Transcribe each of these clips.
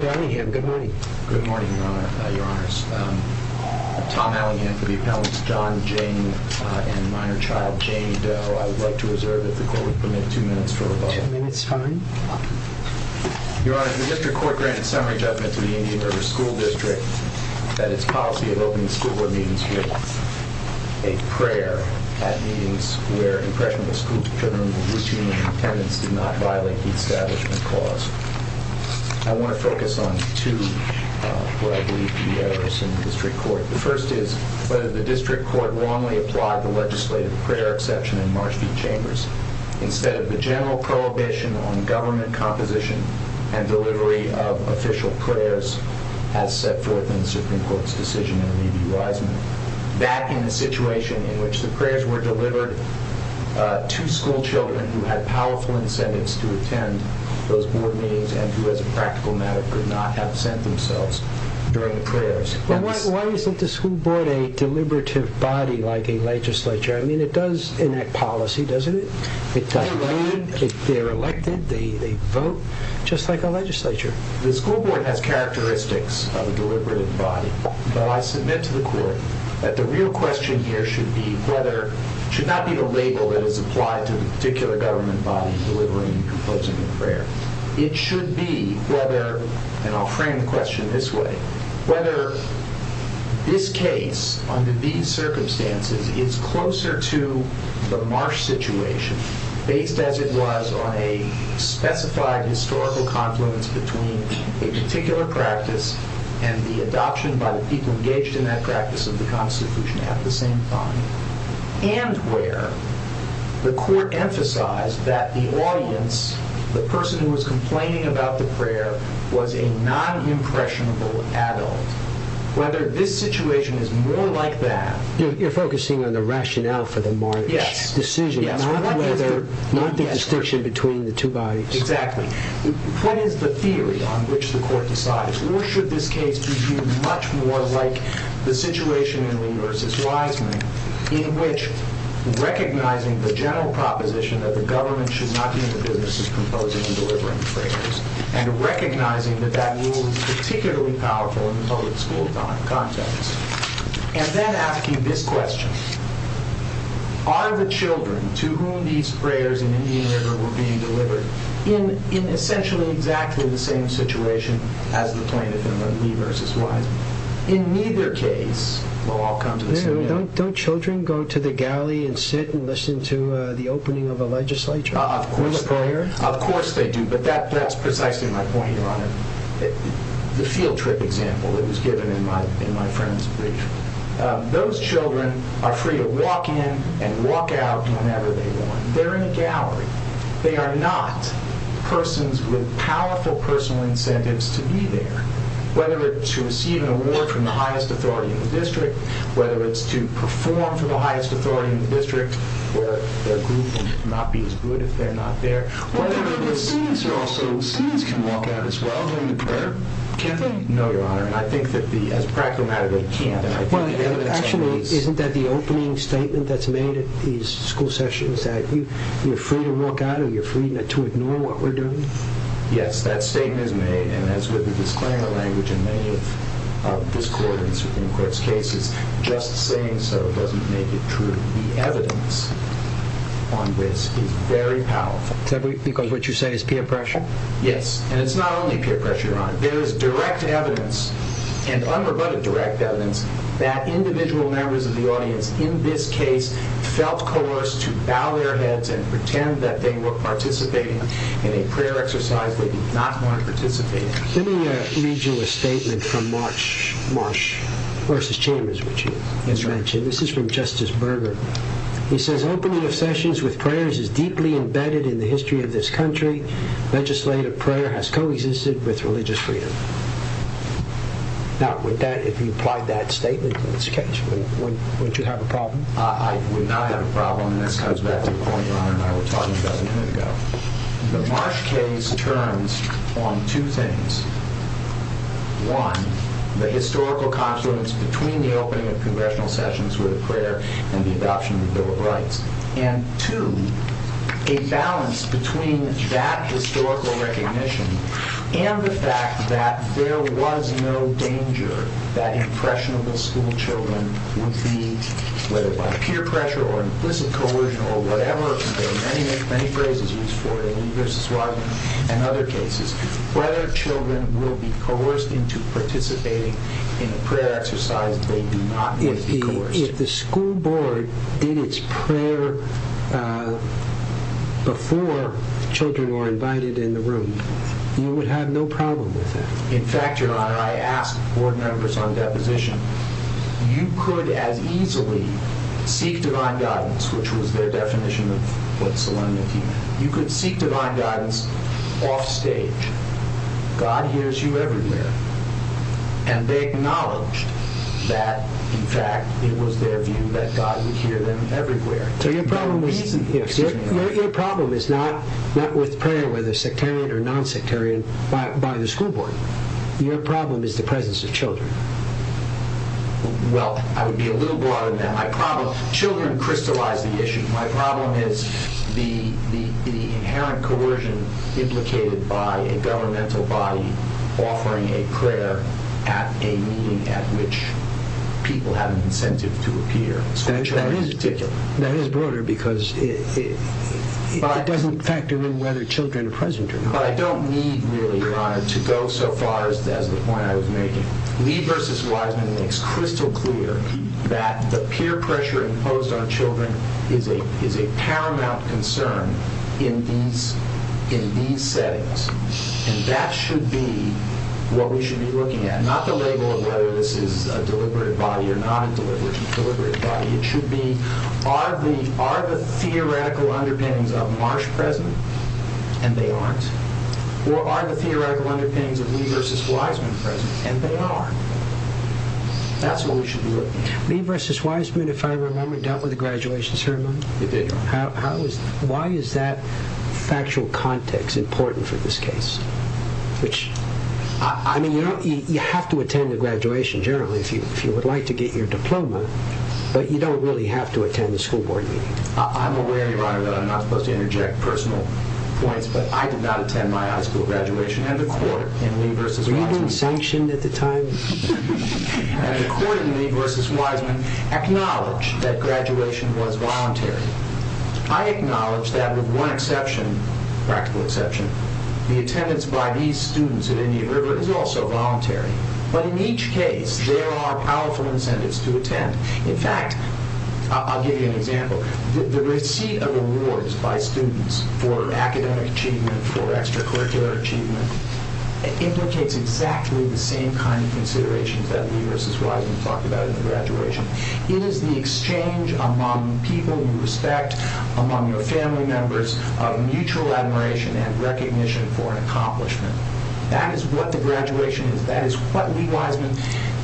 Good morning, your honors. Tom Allingham for the appellants, John Jane and minor child Jane Doe. I would like to reserve, if the court would permit, two minutes for rebuttal. Two minutes, fine. Your honors, the district court granted summary judgment to the Indian River School District that its policy of opening school board meetings with a prayer at meetings where impressionable school children with routine independence did not violate the establishment clause. I want to focus on two, what I believe to be errors in the district court. The first is, whether the district court wrongly applied the legislative prayer exception in Marshfield Chambers instead of the general prohibition on government composition and delivery of official prayers as set forth in the Supreme Court's decision in the Review-Wiseman. That in a situation in which the prayers were delivered to school children who had powerful incentives to attend those board meetings and who, as a practical matter, could not have sent themselves during the prayers. Why isn't the school board a deliberative body like a legislature? I mean, it does enact policy, doesn't it? They're elected, they vote, just like a legislature. The school board has characteristics of a deliberative body, but I submit to the court that the real question here should be whether, should not be a label that is applied to the particular government body delivering and composing the prayer. It should be whether, and I'll frame the question this way, whether this case, under these circumstances, is closer to the Marsh situation, based as it was on a specified historical confluence between a particular practice and the adoption by the people engaged in that practice of the Constitution at the same time. And where the court emphasized that the audience, the person who was complaining about the prayer, was a non-impressionable adult. Whether this situation is more like that. You're focusing on the rationale for the Marsh decision, not the distinction between the two bodies. Exactly. What is the theory on which the court decides? Or should this case be viewed much more like the situation in Lee v. Wiseman, in which recognizing the general proposition that the government should not be in the business of composing and delivering prayers, and recognizing that that rule is particularly powerful in the public school context. And then asking this question. Are the children to whom these prayers in Indian River were being delivered, in essentially exactly the same situation as the plaintiff in Lee v. Wiseman? In neither case, will all come to the same end. Don't children go to the galley and sit and listen to the opening of a legislature? Of course they do. But that's precisely my point, Your Honor. The field trip example that was given in my friend's brief. Those children are free to walk in and walk out whenever they want. They're in a gallery. They are not persons with powerful personal incentives to be there. Whether it's to receive an award from the highest authority in the district, whether it's to perform for the highest authority in the district, whether their group will not be as good if they're not there. Whether the students can walk out as well during the prayer? No, Your Honor. And I think that as a practical matter, they can't. Actually, isn't that the opening statement that's made at these school sessions? That you're free to walk out or you're free to ignore what we're doing? Yes, that statement is made, and as with the disclaimer language in many of this court and the Supreme Court's cases, just saying so doesn't make it true. The evidence on this is very powerful. Because what you say is peer pressure? Yes, and it's not only peer pressure, Your Honor. There is direct evidence and unrebutted direct evidence that individual members of the audience in this case felt coerced to bow their heads and pretend that they were participating in a prayer exercise they did not want to participate in. Let me read you a statement from Marsh v. Chambers, which you had mentioned. This is from Justice Berger. He says, Opening of sessions with prayers is deeply embedded in the history of this country. Legislative prayer has coexisted with religious freedom. Now, if you applied that statement to this case, would you have a problem? I would not have a problem, and this comes back to the point Your Honor and I were talking about a minute ago. The Marsh case turns on two things. One, the historical confluence between the opening of congressional sessions with a prayer and the adoption of the Bill of Rights. And two, a balance between that historical recognition and the fact that there was no danger that impressionable school children would be, whether by peer pressure or implicit coercion or whatever, and there are many phrases used for it in Lee v. Wagner and other cases, whether children will be coerced into participating in a prayer exercise they do not want to be coerced. If the school board did its prayer before children were invited in the room, you would have no problem with that. In fact, Your Honor, I asked board members on deposition, you could as easily seek divine guidance, which was their definition of what solemnity meant. You could seek divine guidance offstage. God hears you everywhere. And they acknowledged that, in fact, it was their view that God would hear them everywhere. Your problem is not with prayer, whether sectarian or non-sectarian, by the school board. Your problem is the presence of children. Well, I would be a little broader than that. Children crystallize the issue. My problem is the inherent coercion implicated by a governmental body offering a prayer at a meeting at which people have an incentive to appear. That is broader because it doesn't factor in whether children are present or not. But I don't need, really, Your Honor, to go so far as the point I was making. Lee v. Wiseman makes crystal clear that the peer pressure imposed on children is a paramount concern in these settings. And that should be what we should be looking at. Not the label of whether this is a deliberate body or not a deliberate body. Are the theoretical underpinnings of Marsh present? And they aren't. Or are the theoretical underpinnings of Lee v. Wiseman present? And they are. That's what we should be looking at. Lee v. Wiseman, if I remember, dealt with the graduation ceremony. He did, Your Honor. Why is that factual context important for this case? I mean, you have to attend a graduation, generally, if you would like to get your diploma. But you don't really have to attend a school board meeting. I'm aware, Your Honor, that I'm not supposed to interject personal points, but I did not attend my high school graduation. And the court in Lee v. Wiseman... Were you being sanctioned at the time? And the court in Lee v. Wiseman acknowledged that graduation was voluntary. I acknowledge that with one exception, practical exception, the attendance by these students at India River is also voluntary. But in each case, there are powerful incentives to attend. In fact, I'll give you an example. The receipt of awards by students for academic achievement, for extracurricular achievement, implicates exactly the same kind of considerations that Lee v. Wiseman talked about in the graduation. It is the exchange among people you respect, among your family members, of mutual admiration and recognition for an accomplishment. That is what the graduation is. That is what Lee Wiseman...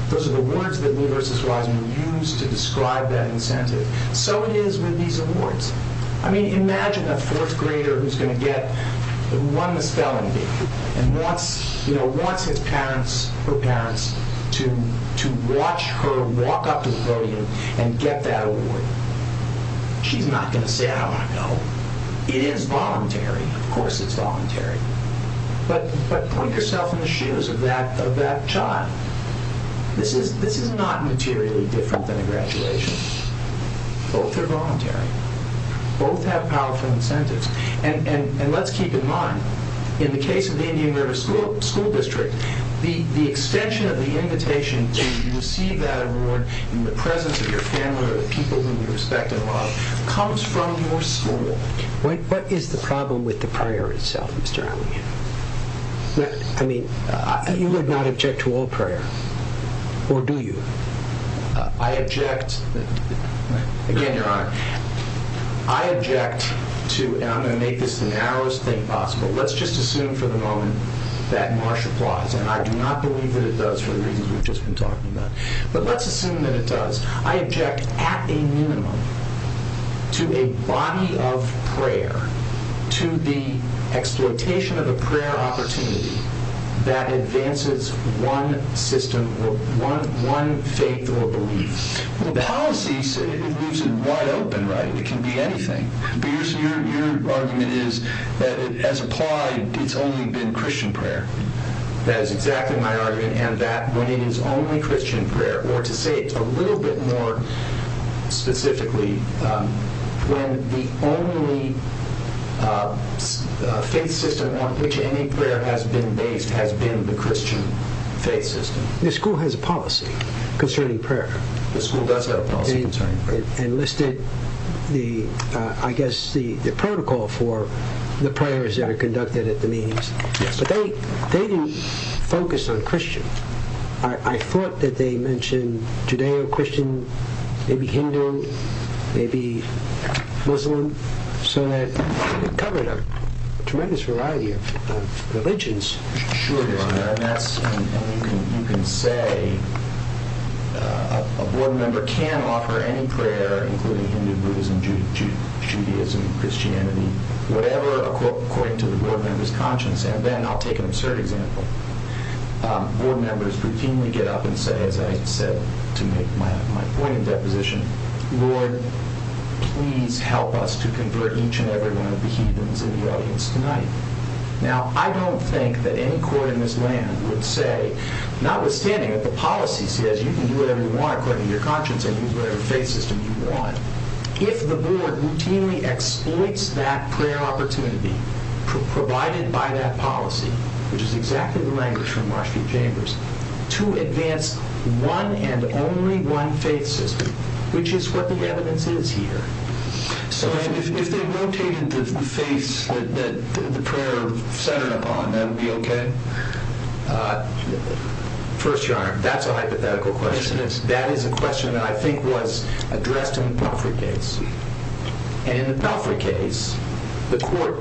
Those are the words that Lee v. Wiseman used to describe that incentive. So it is with these awards. I mean, imagine a fourth grader who's going to get... who won this felony and wants his parents, her parents, to watch her walk up to the podium and get that award. She's not going to say, I don't want to go. It is voluntary. Of course it's voluntary. But put yourself in the shoes of that child. This is not materially different than a graduation. Both are voluntary. Both have powerful incentives. And let's keep in mind, in the case of the India River School District, the extension of the invitation to receive that award in the presence of your family or the people whom you respect and love comes from your school. What is the problem with the prayer itself, Mr. Alley? I mean, you would not object to all prayer. Or do you? I object... Again, Your Honor, I object to, and I'm going to make this the narrowest thing possible, but let's just assume for the moment that Marsh applies. And I do not believe that it does for the reasons we've just been talking about. But let's assume that it does. I object at a minimum to a body of prayer, to the exploitation of a prayer opportunity that advances one system or one faith or belief. Well, policies, it leaves it wide open, right? It can be anything. But your argument is that as applied, it's only been Christian prayer. That is exactly my argument, and that when it is only Christian prayer, or to say it a little bit more specifically, when the only faith system on which any prayer has been based has been the Christian faith system. The school has a policy concerning prayer. The school does have a policy concerning prayer. And listed, I guess, the protocol for the prayers that are conducted at the meetings. But they didn't focus on Christian. I thought that they mentioned Judeo-Christian, maybe Hindu, maybe Muslim, so that it covered a tremendous variety of religions. Sure, Your Honor. You can say a board member can offer any prayer, including Hindu, Buddhism, Judaism, Christianity, whatever according to the board member's conscience. And then I'll take an absurd example. Board members routinely get up and say, as I said to make my point in deposition, Lord, please help us to convert each and every one of the heathens in the audience tonight. Now, I don't think that any court in this land would say, notwithstanding that the policy says you can do whatever you want according to your conscience and use whatever faith system you want, if the board routinely exploits that prayer opportunity provided by that policy, which is exactly the language from Rushfield Chambers, to advance one and only one faith system, which is what the evidence is here. So if they rotated the faiths that the prayer centered upon, that would be okay? First, Your Honor, that's a hypothetical question. That is a question that I think was addressed in the Pelfrey case. And in the Pelfrey case, the court...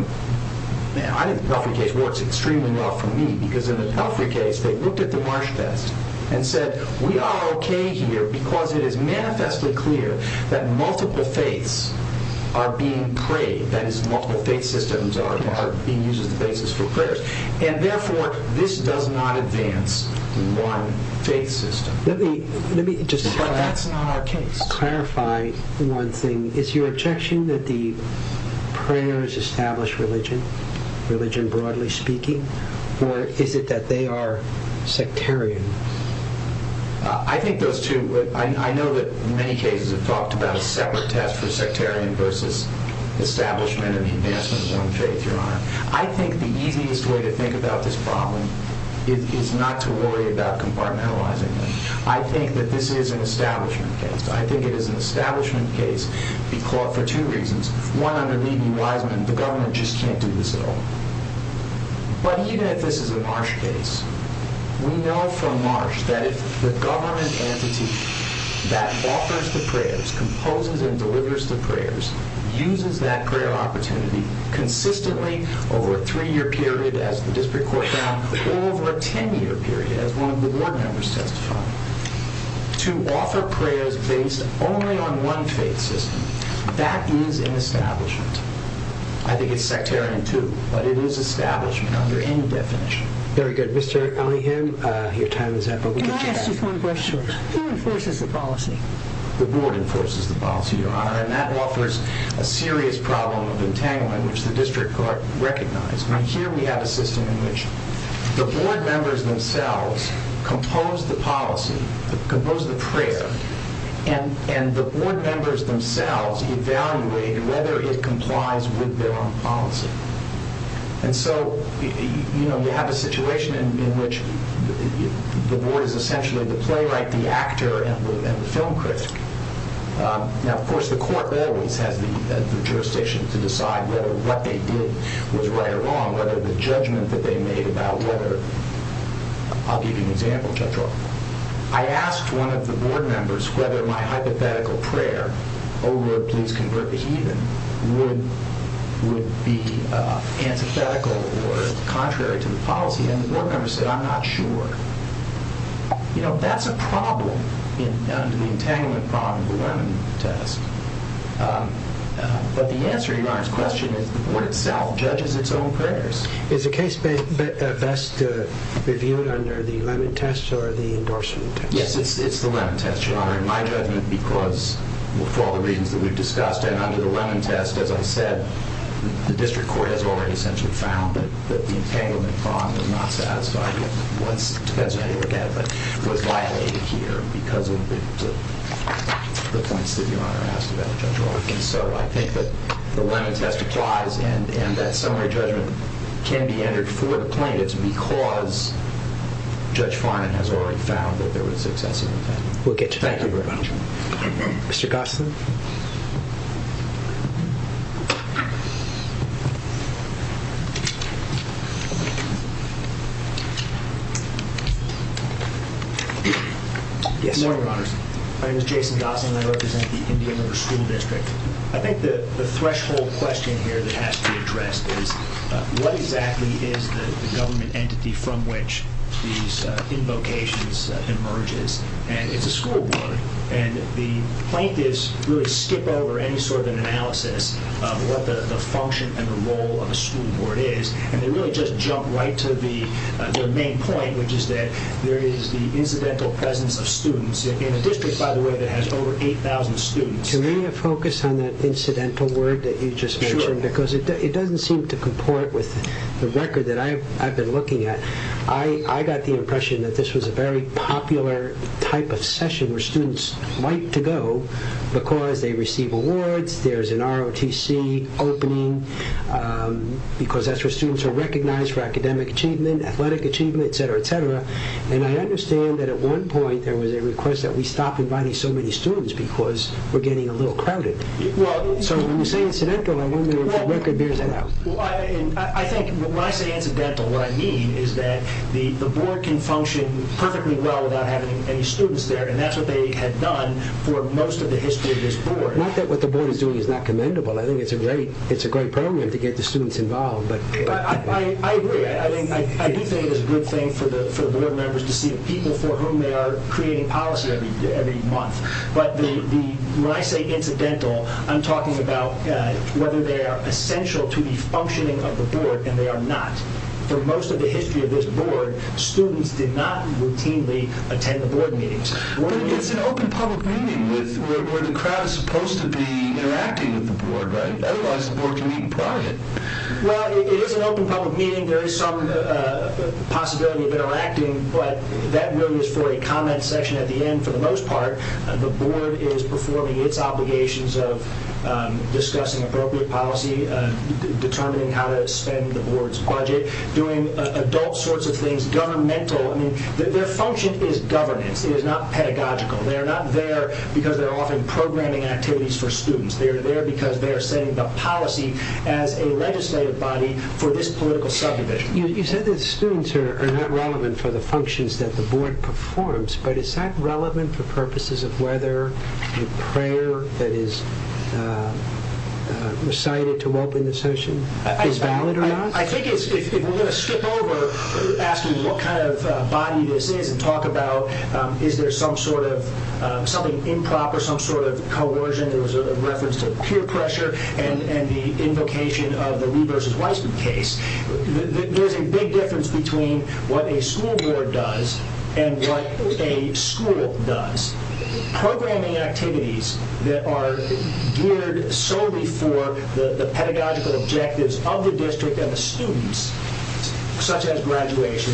I think the Pelfrey case works extremely well for me, because in the Pelfrey case they looked at the Marsh test and said, we are okay here because it is manifestly clear that multiple faiths are being prayed. That is, multiple faith systems are being used as the basis for prayers. And therefore, this does not advance one faith system. But that's not our case. Let me just clarify one thing. Is your objection that the prayers establish religion, religion broadly speaking? Or is it that they are sectarian? I think those two... I know that many cases have talked about a separate test for sectarian versus establishment and advancement of one faith, Your Honor. I think the easiest way to think about this problem is not to worry about compartmentalizing it. I think that this is an establishment case. I think it is an establishment case for two reasons. One, under Levy-Wiseman, the government just can't do this at all. But even if this is a Marsh case, we know from Marsh that if the government entity that offers the prayers, composes and delivers the prayers, uses that prayer opportunity consistently over a three-year period, as the district court found, or over a ten-year period, as one of the board members testified, to offer prayers based only on one faith system, that is an establishment. I think it's sectarian, too. But it is establishment under any definition. Very good. Mr. Ellingham, your time is up. Can I ask just one question? Who enforces the policy? The board enforces the policy, Your Honor. And that offers a serious problem of entanglement, which the district court recognized. Now here we have a system in which the board members themselves compose the policy, compose the prayer, and the board members themselves evaluate whether it complies with their own policy. And so, you know, you have a situation in which the board is essentially the playwright, the actor, and the film critic. Now, of course, the court always has the jurisdiction to decide whether what they did was right or wrong, whether the judgment that they made about whether... I'll give you an example, Judge Roth. I asked one of the board members whether my hypothetical prayer, O Lord, please convert the heathen, would be antithetical or contrary to the policy, and the board member said, I'm not sure. You know, that's a problem under the entanglement problem of the Lemon Test. But the answer, Your Honor's question, is the board itself judges its own prayers. Is the case best reviewed under the Lemon Test or the endorsement test? Yes, it's the Lemon Test, Your Honor. In my judgment, because for all the reasons that we've discussed, and under the Lemon Test, as I said, the district court has already essentially found that the entanglement problem was not satisfied. It was, depends on how you look at it, but it was violated here because of the points that Your Honor asked about, Judge Roth. And so I think that the Lemon Test applies, and that summary judgment can be entered for the plaintiffs because Judge Finan has already found that there was excessive entanglement. We'll get to that. Thank you very much. Mr. Gossin? Yes, Your Honor. My name is Jason Gossin. I represent the Indian River School District. I think the threshold question here that has to be addressed is what exactly is the government entity from which these invocations emerges? And it's a school board, and the plaintiffs really skip over any sort of an analysis of what the function and the role of a school board is. And they really just jump right to the main point, which is that there is the incidental presence of students. In a district, by the way, that has over 8,000 students. Can we focus on that incidental word that you just mentioned? Sure. Because it doesn't seem to comport with the record that I've been looking at. I got the impression that this was a very popular type of session where students like to go because they receive awards, there's an ROTC opening because that's where students are recognized for academic achievement, athletic achievement, et cetera, et cetera. And I understand that at one point there was a request that we stop inviting so many students because we're getting a little crowded. So when you say incidental, I wonder if the record bears that out. Well, I think when I say incidental, what I mean is that the board can function perfectly well without having any students there, and that's what they had done for most of the history of this board. Not that what the board is doing is not commendable. I think it's a great program to get the students involved. I agree. I do think it's a good thing for the board members to see the people for whom they are creating policy every month. But when I say incidental, I'm talking about whether they are essential to the functioning of the board, and they are not. For most of the history of this board, students did not routinely attend the board meetings. But it's an open public meeting where the crowd is supposed to be interacting with the board, right? Otherwise, the board can meet in private. Well, it is an open public meeting. There is some possibility of interacting, but that really is for a comment section at the end for the most part. The board is performing its obligations of discussing appropriate policy, determining how to spend the board's budget, doing adult sorts of things, governmental. Their function is governance. It is not pedagogical. They are not there because they are offering programming activities for students. They are there because they are setting the policy as a legislative body for this political subdivision. You said that students are not relevant for the functions that the board performs, but is that relevant for purposes of whether the prayer that is recited to open the session is valid or not? I think if we are going to skip over asking what kind of body this is and talk about is there some sort of something improper, some sort of coercion that was a reference to peer pressure and the invocation of the Lee v. Weissman case, there is a big difference between what a school board does and what a school does. Programming activities that are geared solely for the pedagogical objectives of the district and the students, such as graduation,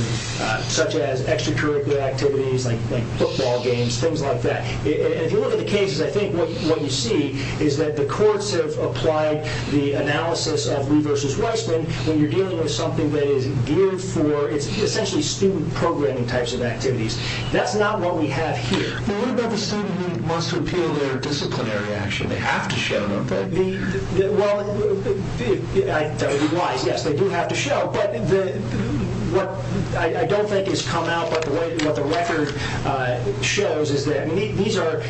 such as extracurricular activities like football games, things like that. If you look at the cases, I think what you see is that the courts have applied the analysis of Lee v. Weissman when you are dealing with something that is geared for essentially student programming types of activities. That is not what we have here. What about the student who wants to appeal their disciplinary action? They have to show, don't they? That would be wise. Yes, they do have to show. What I don't think has come out, but what the record shows is that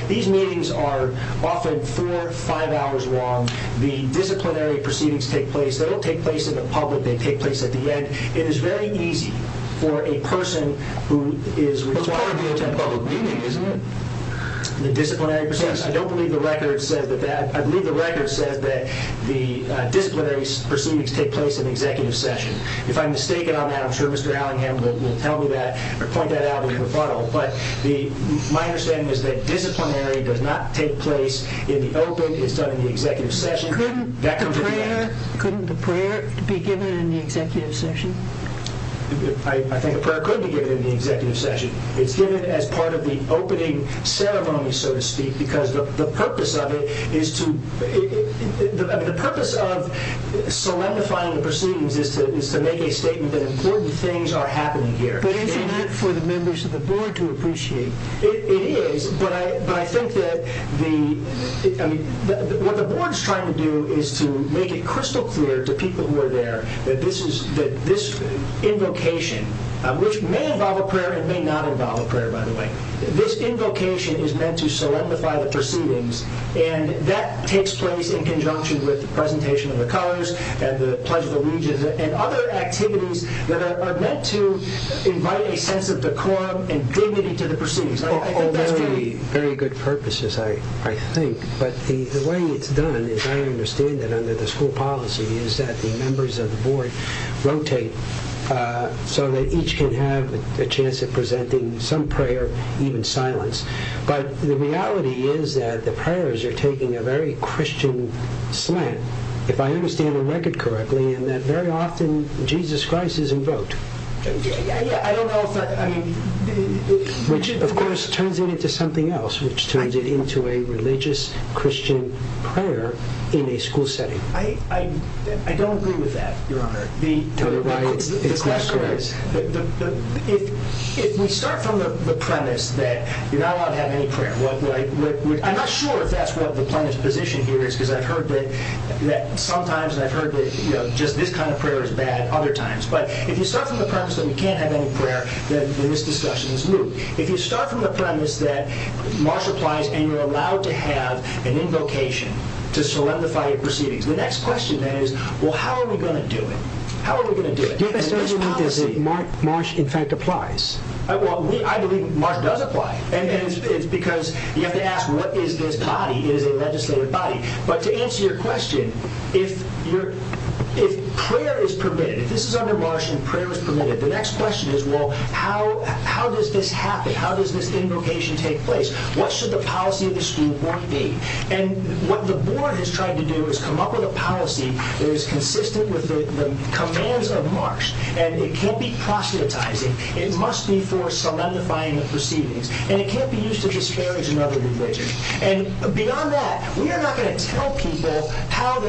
these meetings are often four or five hours long. The disciplinary proceedings take place. They don't take place in the public. They take place at the end. It is very easy for a person who is required to attend a public meeting, isn't it? I don't believe the record says that. I believe the record says that the disciplinary proceedings take place in the executive session. If I'm mistaken on that, I'm sure Mr. Allingham will tell me that or point that out in the rebuttal. But my understanding is that disciplinary does not take place in the open. It's done in the executive session. Couldn't the prayer be given in the executive session? I think the prayer couldn't be given in the executive session. It's given as part of the opening ceremony, so to speak, because the purpose of it is to, the purpose of solidifying the proceedings is to make a statement that important things are happening here. But isn't that for the members of the board to appreciate? It is, but I think that the, I mean, what the board is trying to do is to make it crystal clear to people who are there that this is, that this invocation, which may involve a prayer, it may not involve a prayer, by the way, this invocation is meant to solidify the proceedings and that takes place in conjunction with the presentation of the colors and the Pledge of Allegiance and other activities that are meant to invite a sense of decorum and dignity to the proceedings. Very good purposes, I think, but the way it's done, as I understand it under the school policy, is that the members of the board rotate so that each can have a chance of presenting some prayer, even silence. But the reality is that the prayers are taking a very Christian slant, if I understand the record correctly, in that very often Jesus Christ is invoked, which of course turns it into something else, which turns it into a religious Christian prayer in a school setting. I don't agree with that, Your Honor. It's not correct. If we start from the premise that you're not allowed to have any prayer, I'm not sure if that's what the plaintiff's position here is because I've heard that sometimes, and I've heard that just this kind of prayer is bad other times, but if you start from the premise that you can't have any prayer, then this discussion is moot. If you start from the premise that Marsha applies and you're allowed to have an invocation to solidify your proceedings, the next question then is, well, how are we going to do it? How are we going to do it? Marsha, in fact, applies. I believe Marsha does apply. It's because you have to ask, what is this body? It is a legislative body. But to answer your question, if prayer is permitted, if this is under Marsha and prayer is permitted, the next question is, well, how does this happen? How does this invocation take place? What should the policy of the school board be? And what the board has tried to do is come up with a policy that is consistent with the commands of Marsha, and it can't be proselytizing. It must be for solidifying the proceedings, and it can't be used to disparage another religion. And beyond that, we are not going to tell people how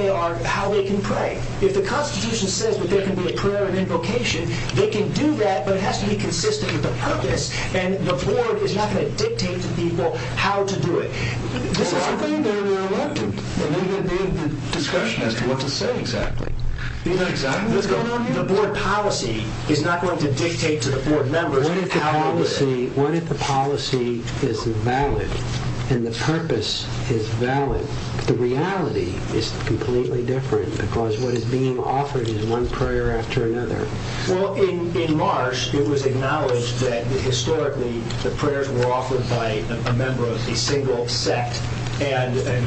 they can pray. If the Constitution says that there can be a prayer and invocation, they can do that, but it has to be consistent with the purpose, and the board is not going to dictate to people how to do it. This is something that we're reluctant, and we've been in discussion as to what to say exactly. What's going on here? The board policy is not going to dictate to the board members how to do it. What if the policy is valid, and the purpose is valid? The reality is completely different, because what is being offered is one prayer after another. Well, in Marsh, it was acknowledged that historically the prayers were offered by a member of a single sect, and I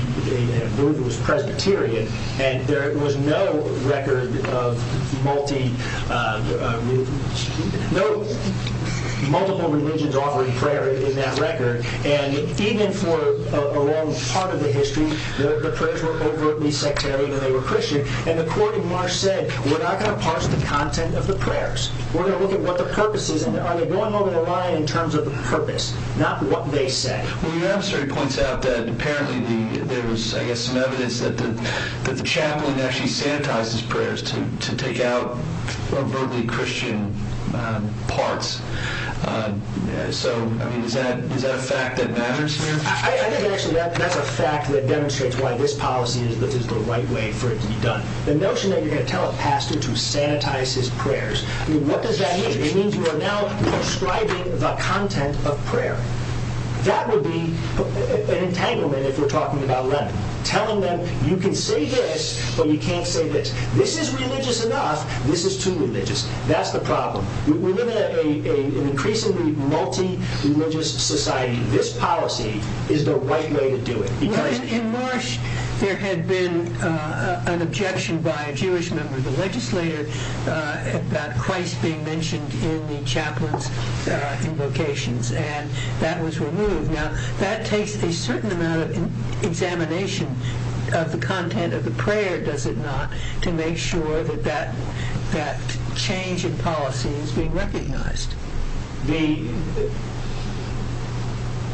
believe it was Presbyterian, and there was no record of multiple religions offering prayer in that record. And even for a long part of the history, the prayers were overtly sectarian, and they were Christian. And the court in Marsh said, we're not going to parse the content of the prayers. We're going to look at what the purpose is, and are they going over the line in terms of the purpose, not what they say? Well, your admissory points out that apparently there was, I guess, some evidence that the chaplain actually sanitized his prayers to take out overtly Christian parts. So, I mean, is that a fact that matters here? I think actually that's a fact that demonstrates why this policy is the right way for it to be done. The notion that you're going to tell a pastor to sanitize his prayers, I mean, what does that mean? It means you are now prescribing the content of prayer. That would be an entanglement if we're talking about Lenin, telling them you can say this, but you can't say this. This is religious enough, this is too religious. That's the problem. We live in an increasingly multi-religious society. This policy is the right way to do it. In Marsh, there had been an objection by a Jewish member of the legislature about Christ being mentioned in the chaplain's invocations, and that was removed. Now, that takes a certain amount of examination of the content of the prayer, does it not, to make sure that that change in policy is being recognized?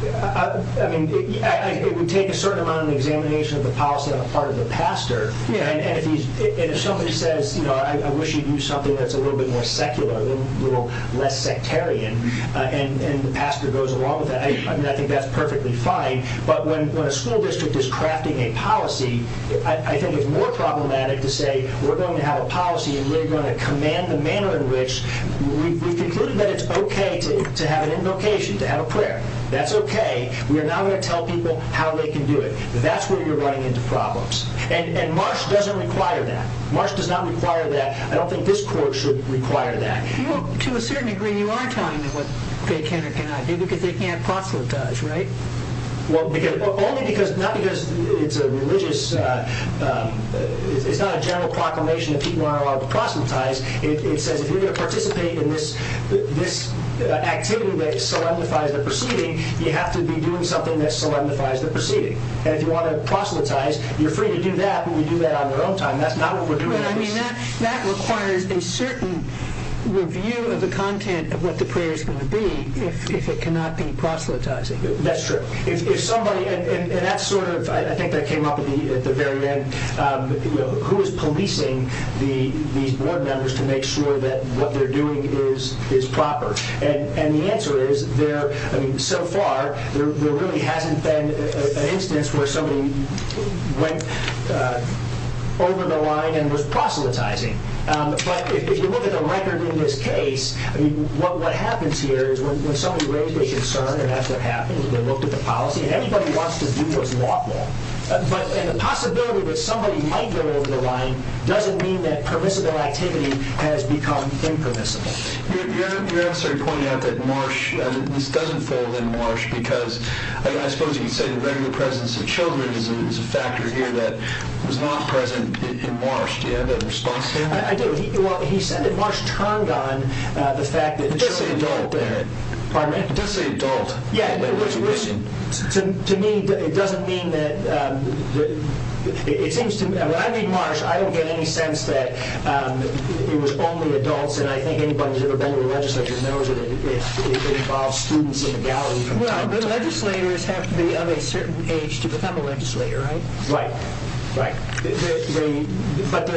I mean, it would take a certain amount of examination of the policy on the part of the pastor, and if somebody says, you know, I wish you'd use something that's a little bit more secular, a little less sectarian, and the pastor goes along with that, I think that's perfectly fine, but when a school district is crafting a policy, I think it's more problematic to say we're going to have a policy and we're going to command the manner in which we've concluded that it's okay to have an invocation, to have a prayer. That's okay. We're now going to tell people how they can do it. That's where you're running into problems, and Marsh doesn't require that. Marsh does not require that. I don't think this court should require that. To a certain degree, you are telling them what they can or cannot do because they can't proselytize, right? Well, only because, not because it's a religious, it's not a general proclamation that people aren't allowed to proselytize. It says if you're going to participate in this activity that solemnifies the proceeding, you have to be doing something that solemnifies the proceeding, and if you want to proselytize, you're free to do that, but you do that on your own time. That requires a certain review of the content of what the prayer is going to be if it cannot be proselytizing. That's true. I think that came up at the very end. Who is policing these board members to make sure that what they're doing is proper? And the answer is, so far, there really hasn't been an instance where somebody went over the line and was proselytizing, but if you look at the record in this case, what happens here is when somebody raises a concern, and that's what happens, they look at the policy, and everybody wants to do what's lawful, and the possibility that somebody might go over the line doesn't mean that permissible activity has become impermissible. You're actually pointing out that Marsh, at least doesn't fall in Marsh, because I suppose you could say the regular presence of children is a factor here that was not present in Marsh. Do you have a response to that? I do. Well, he said that Marsh turned on the fact that children were there. It does say adult there. Pardon me? It does say adult. Yeah. To me, it doesn't mean that it seems to me. When I read Marsh, I don't get any sense that it was only adults, and I think anybody who's ever been to the legislature knows that it involves students in the gallery from time to time. Well, the legislators have to be of a certain age to become a legislator, right? Right. But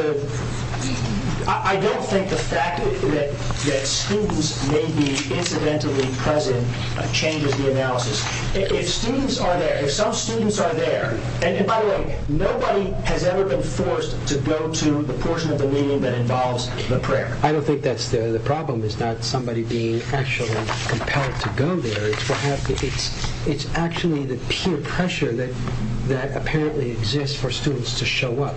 I don't think the fact that students may be incidentally present changes the analysis. If students are there, if some students are there, and by the way, nobody has ever been forced to go to the portion of the meeting that involves the prayer. I don't think that's the problem. It's not somebody being actually compelled to go there. It's actually the peer pressure that apparently exists for students to show up,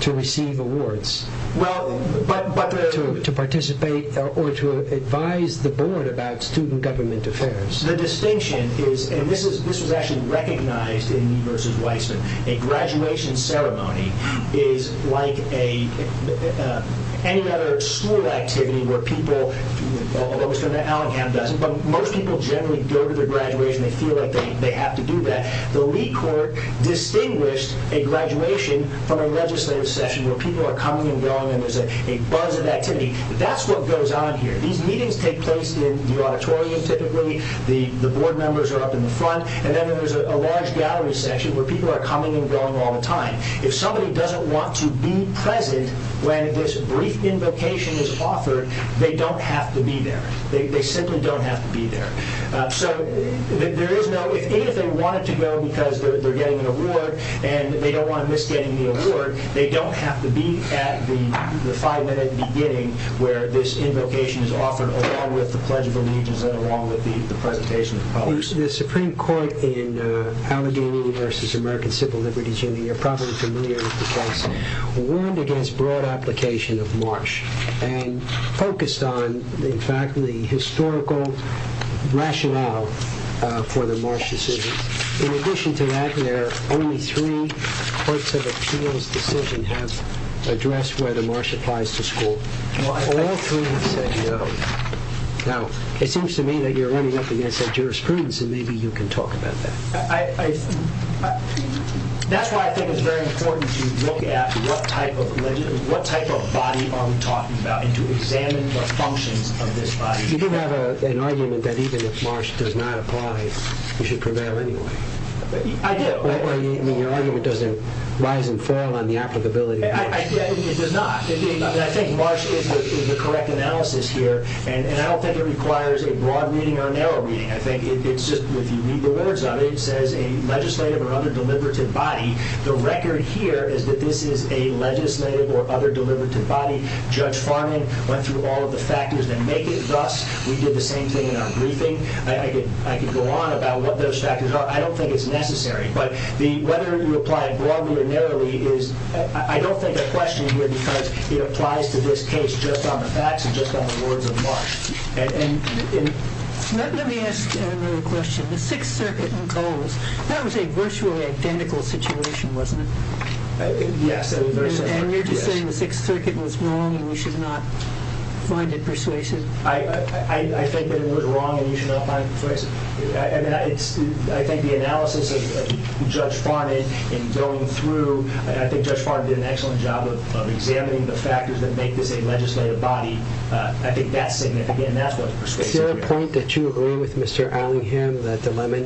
to receive awards, to participate, or to advise the board about student government affairs. The distinction is, and this was actually recognized in Me v. Weissman, a graduation ceremony is like any other school activity where people, although Mr. Allingham doesn't, but most people generally go to their graduation, they feel like they have to do that. The Lee court distinguished a graduation from a legislative session where people are coming and going and there's a buzz of activity. That's what goes on here. These meetings take place in the auditorium, typically. The board members are up in the front, and then there's a large gallery section where people are coming and going all the time. If somebody doesn't want to be present when this brief invocation is offered, they don't have to be there. They simply don't have to be there. So there is no, if any of them wanted to go because they're getting an award and they don't want to miss getting the award, they don't have to be at the five-minute beginning where this invocation is offered, along with the Pledge of Allegiance and along with the presentation. The Supreme Court in Allingham v. American Civil Liberties Union, you're probably familiar with the case, warned against broad application of MARSH and focused on, in fact, the historical rationale for the MARSH decisions. In addition to that, there are only three courts of appeals decisions that have addressed whether MARSH applies to school. All three say no. Now, it seems to me that you're running up against a jurisprudence, and maybe you can talk about that. That's why I think it's very important to look at what type of body are we talking about and to examine the functions of this body. You do have an argument that even if MARSH does not apply, you should prevail anyway. I do. It does not. I think MARSH is the correct analysis here, and I don't think it requires a broad reading or a narrow reading. If you read the words of it, it says a legislative or other deliberative body. The record here is that this is a legislative or other deliberative body. Judge Farman went through all of the factors that make it thus. We did the same thing in our briefing. I could go on about what those factors are. I don't think it's necessary. Whether you apply it broadly or narrowly, I don't think a question here because it applies to this case just on the facts and just on the words of MARSH. Let me ask another question. The Sixth Circuit in Coles, that was a virtually identical situation, wasn't it? Yes. And you're just saying the Sixth Circuit was wrong and we should not find it persuasive? I think the analysis of Judge Farman in going through, I think Judge Farman did an excellent job of examining the factors that make this a legislative body. I think that's significant, and that's what's persuasive here. Is there a point that you agree with Mr. Allingham that the Lemon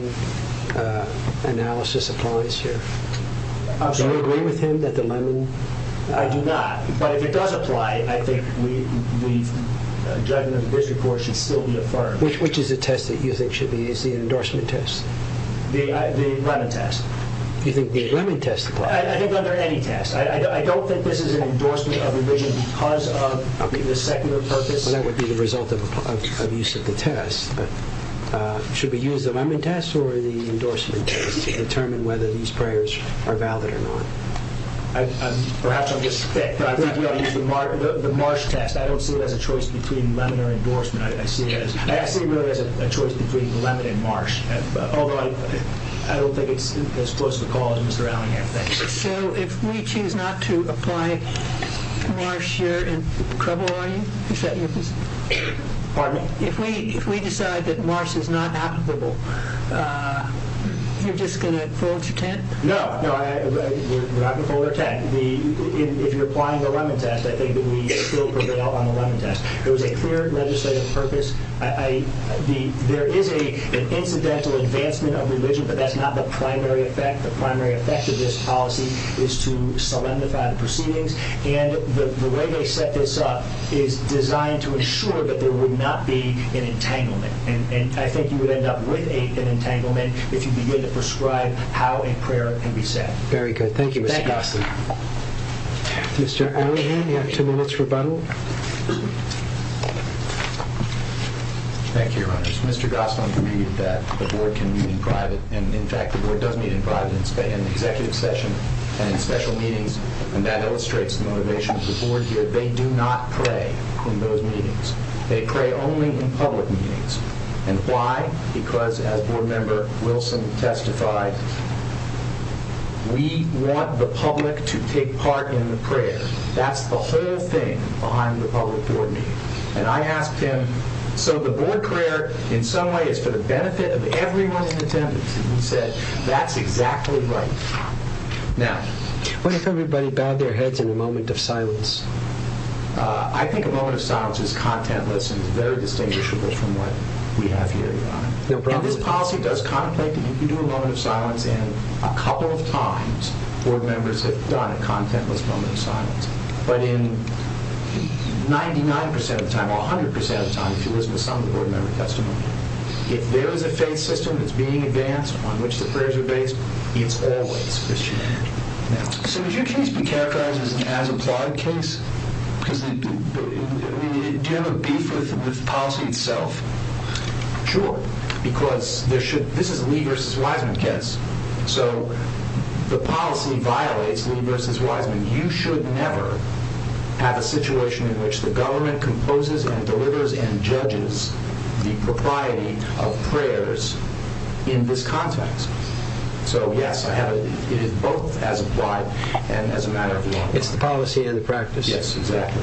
analysis applies here? I'm sorry? Do you agree with him that the Lemon? I do not. But if it does apply, I think the judgment of the district court should still be affirmed. Which is the test that you think should be used, the endorsement test? The Lemon test. You think the Lemon test applies? I think under any test. I don't think this is an endorsement of revision because of the secular purpose. Well, that would be the result of use of the test. But should we use the Lemon test or the endorsement test to determine whether these prayers are valid or not? Perhaps I'm just thick, but I think we ought to use the MARSH test. I don't see it as a choice between Lemon or endorsement. I see it really as a choice between Lemon and MARSH, although I don't think it's as close to the call as Mr. Allingham thinks. So if we choose not to apply MARSH here in Crabble, are you? Pardon me? If we decide that MARSH is not applicable, you're just going to fold your tent? No. We're not going to fold our tent. If you're applying the Lemon test, I think that we still prevail on the Lemon test. It was a clear legislative purpose. There is an incidental advancement of religion, but that's not the primary effect. The primary effect of this policy is to solemnify the proceedings. And the way they set this up is designed to ensure that there would not be an entanglement. And I think you would end up with an entanglement if you begin to prescribe how a prayer can be said. Very good. Thank you, Mr. Gosling. Mr. Allingham, you have two minutes rebuttal. Thank you, Your Honors. Mr. Gosling agreed that the Board can meet in private. And, in fact, the Board does meet in private in the Executive Session and in special meetings. And that illustrates the motivation of the Board here. They do not pray in those meetings. They pray only in public meetings. And why? Because, as Board Member Wilson testified, we want the public to take part in the prayer. That's the whole thing behind the public Board meeting. And I asked him, so the Board prayer, in some way, is for the benefit of everyone in attendance. And he said, that's exactly right. Now... What if everybody bowed their heads in a moment of silence? I think a moment of silence is contentless and very distinguishable from what we have here, Your Honor. And this policy does contemplate that you can do a moment of silence and, a couple of times, Board Members have done a contentless moment of silence. But in 99% of the time, or 100% of the time, if you listen to some of the Board Member testimony, if there is a faith system that's being advanced upon which the prayers are based, it's always Christian. So would you please be characterized as an as-implied case? Do you have a beef with the policy itself? Sure. Because this is a Lee v. Wiseman case. So the policy violates Lee v. Wiseman. You should never have a situation in which the government composes and delivers and judges the propriety of prayers in this context. So yes, it is both as-implied and as a matter of law. It's the policy and the practice. Yes, exactly.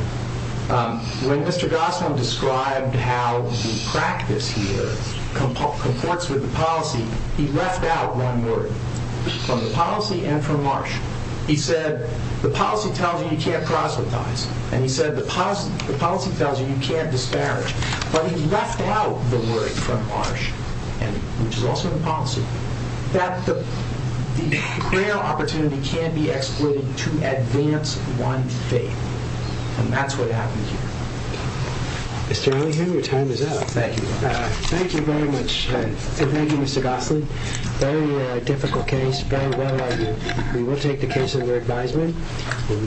When Mr. Gosnell described how the practice here comports with the policy, he left out one word from the policy and from Marsh. He said, the policy tells you you can't proselytize. And he said, the policy tells you you can't disparage. But he left out the word from Marsh, which is also in the policy, that the prayer opportunity can be exploited to advance one's faith. And that's what happened here. Mr. Ellingham, your time is up. Thank you. Thank you very much. Thank you, Mr. Gosnell. Very difficult case. Very well argued. We will take the case under advisement.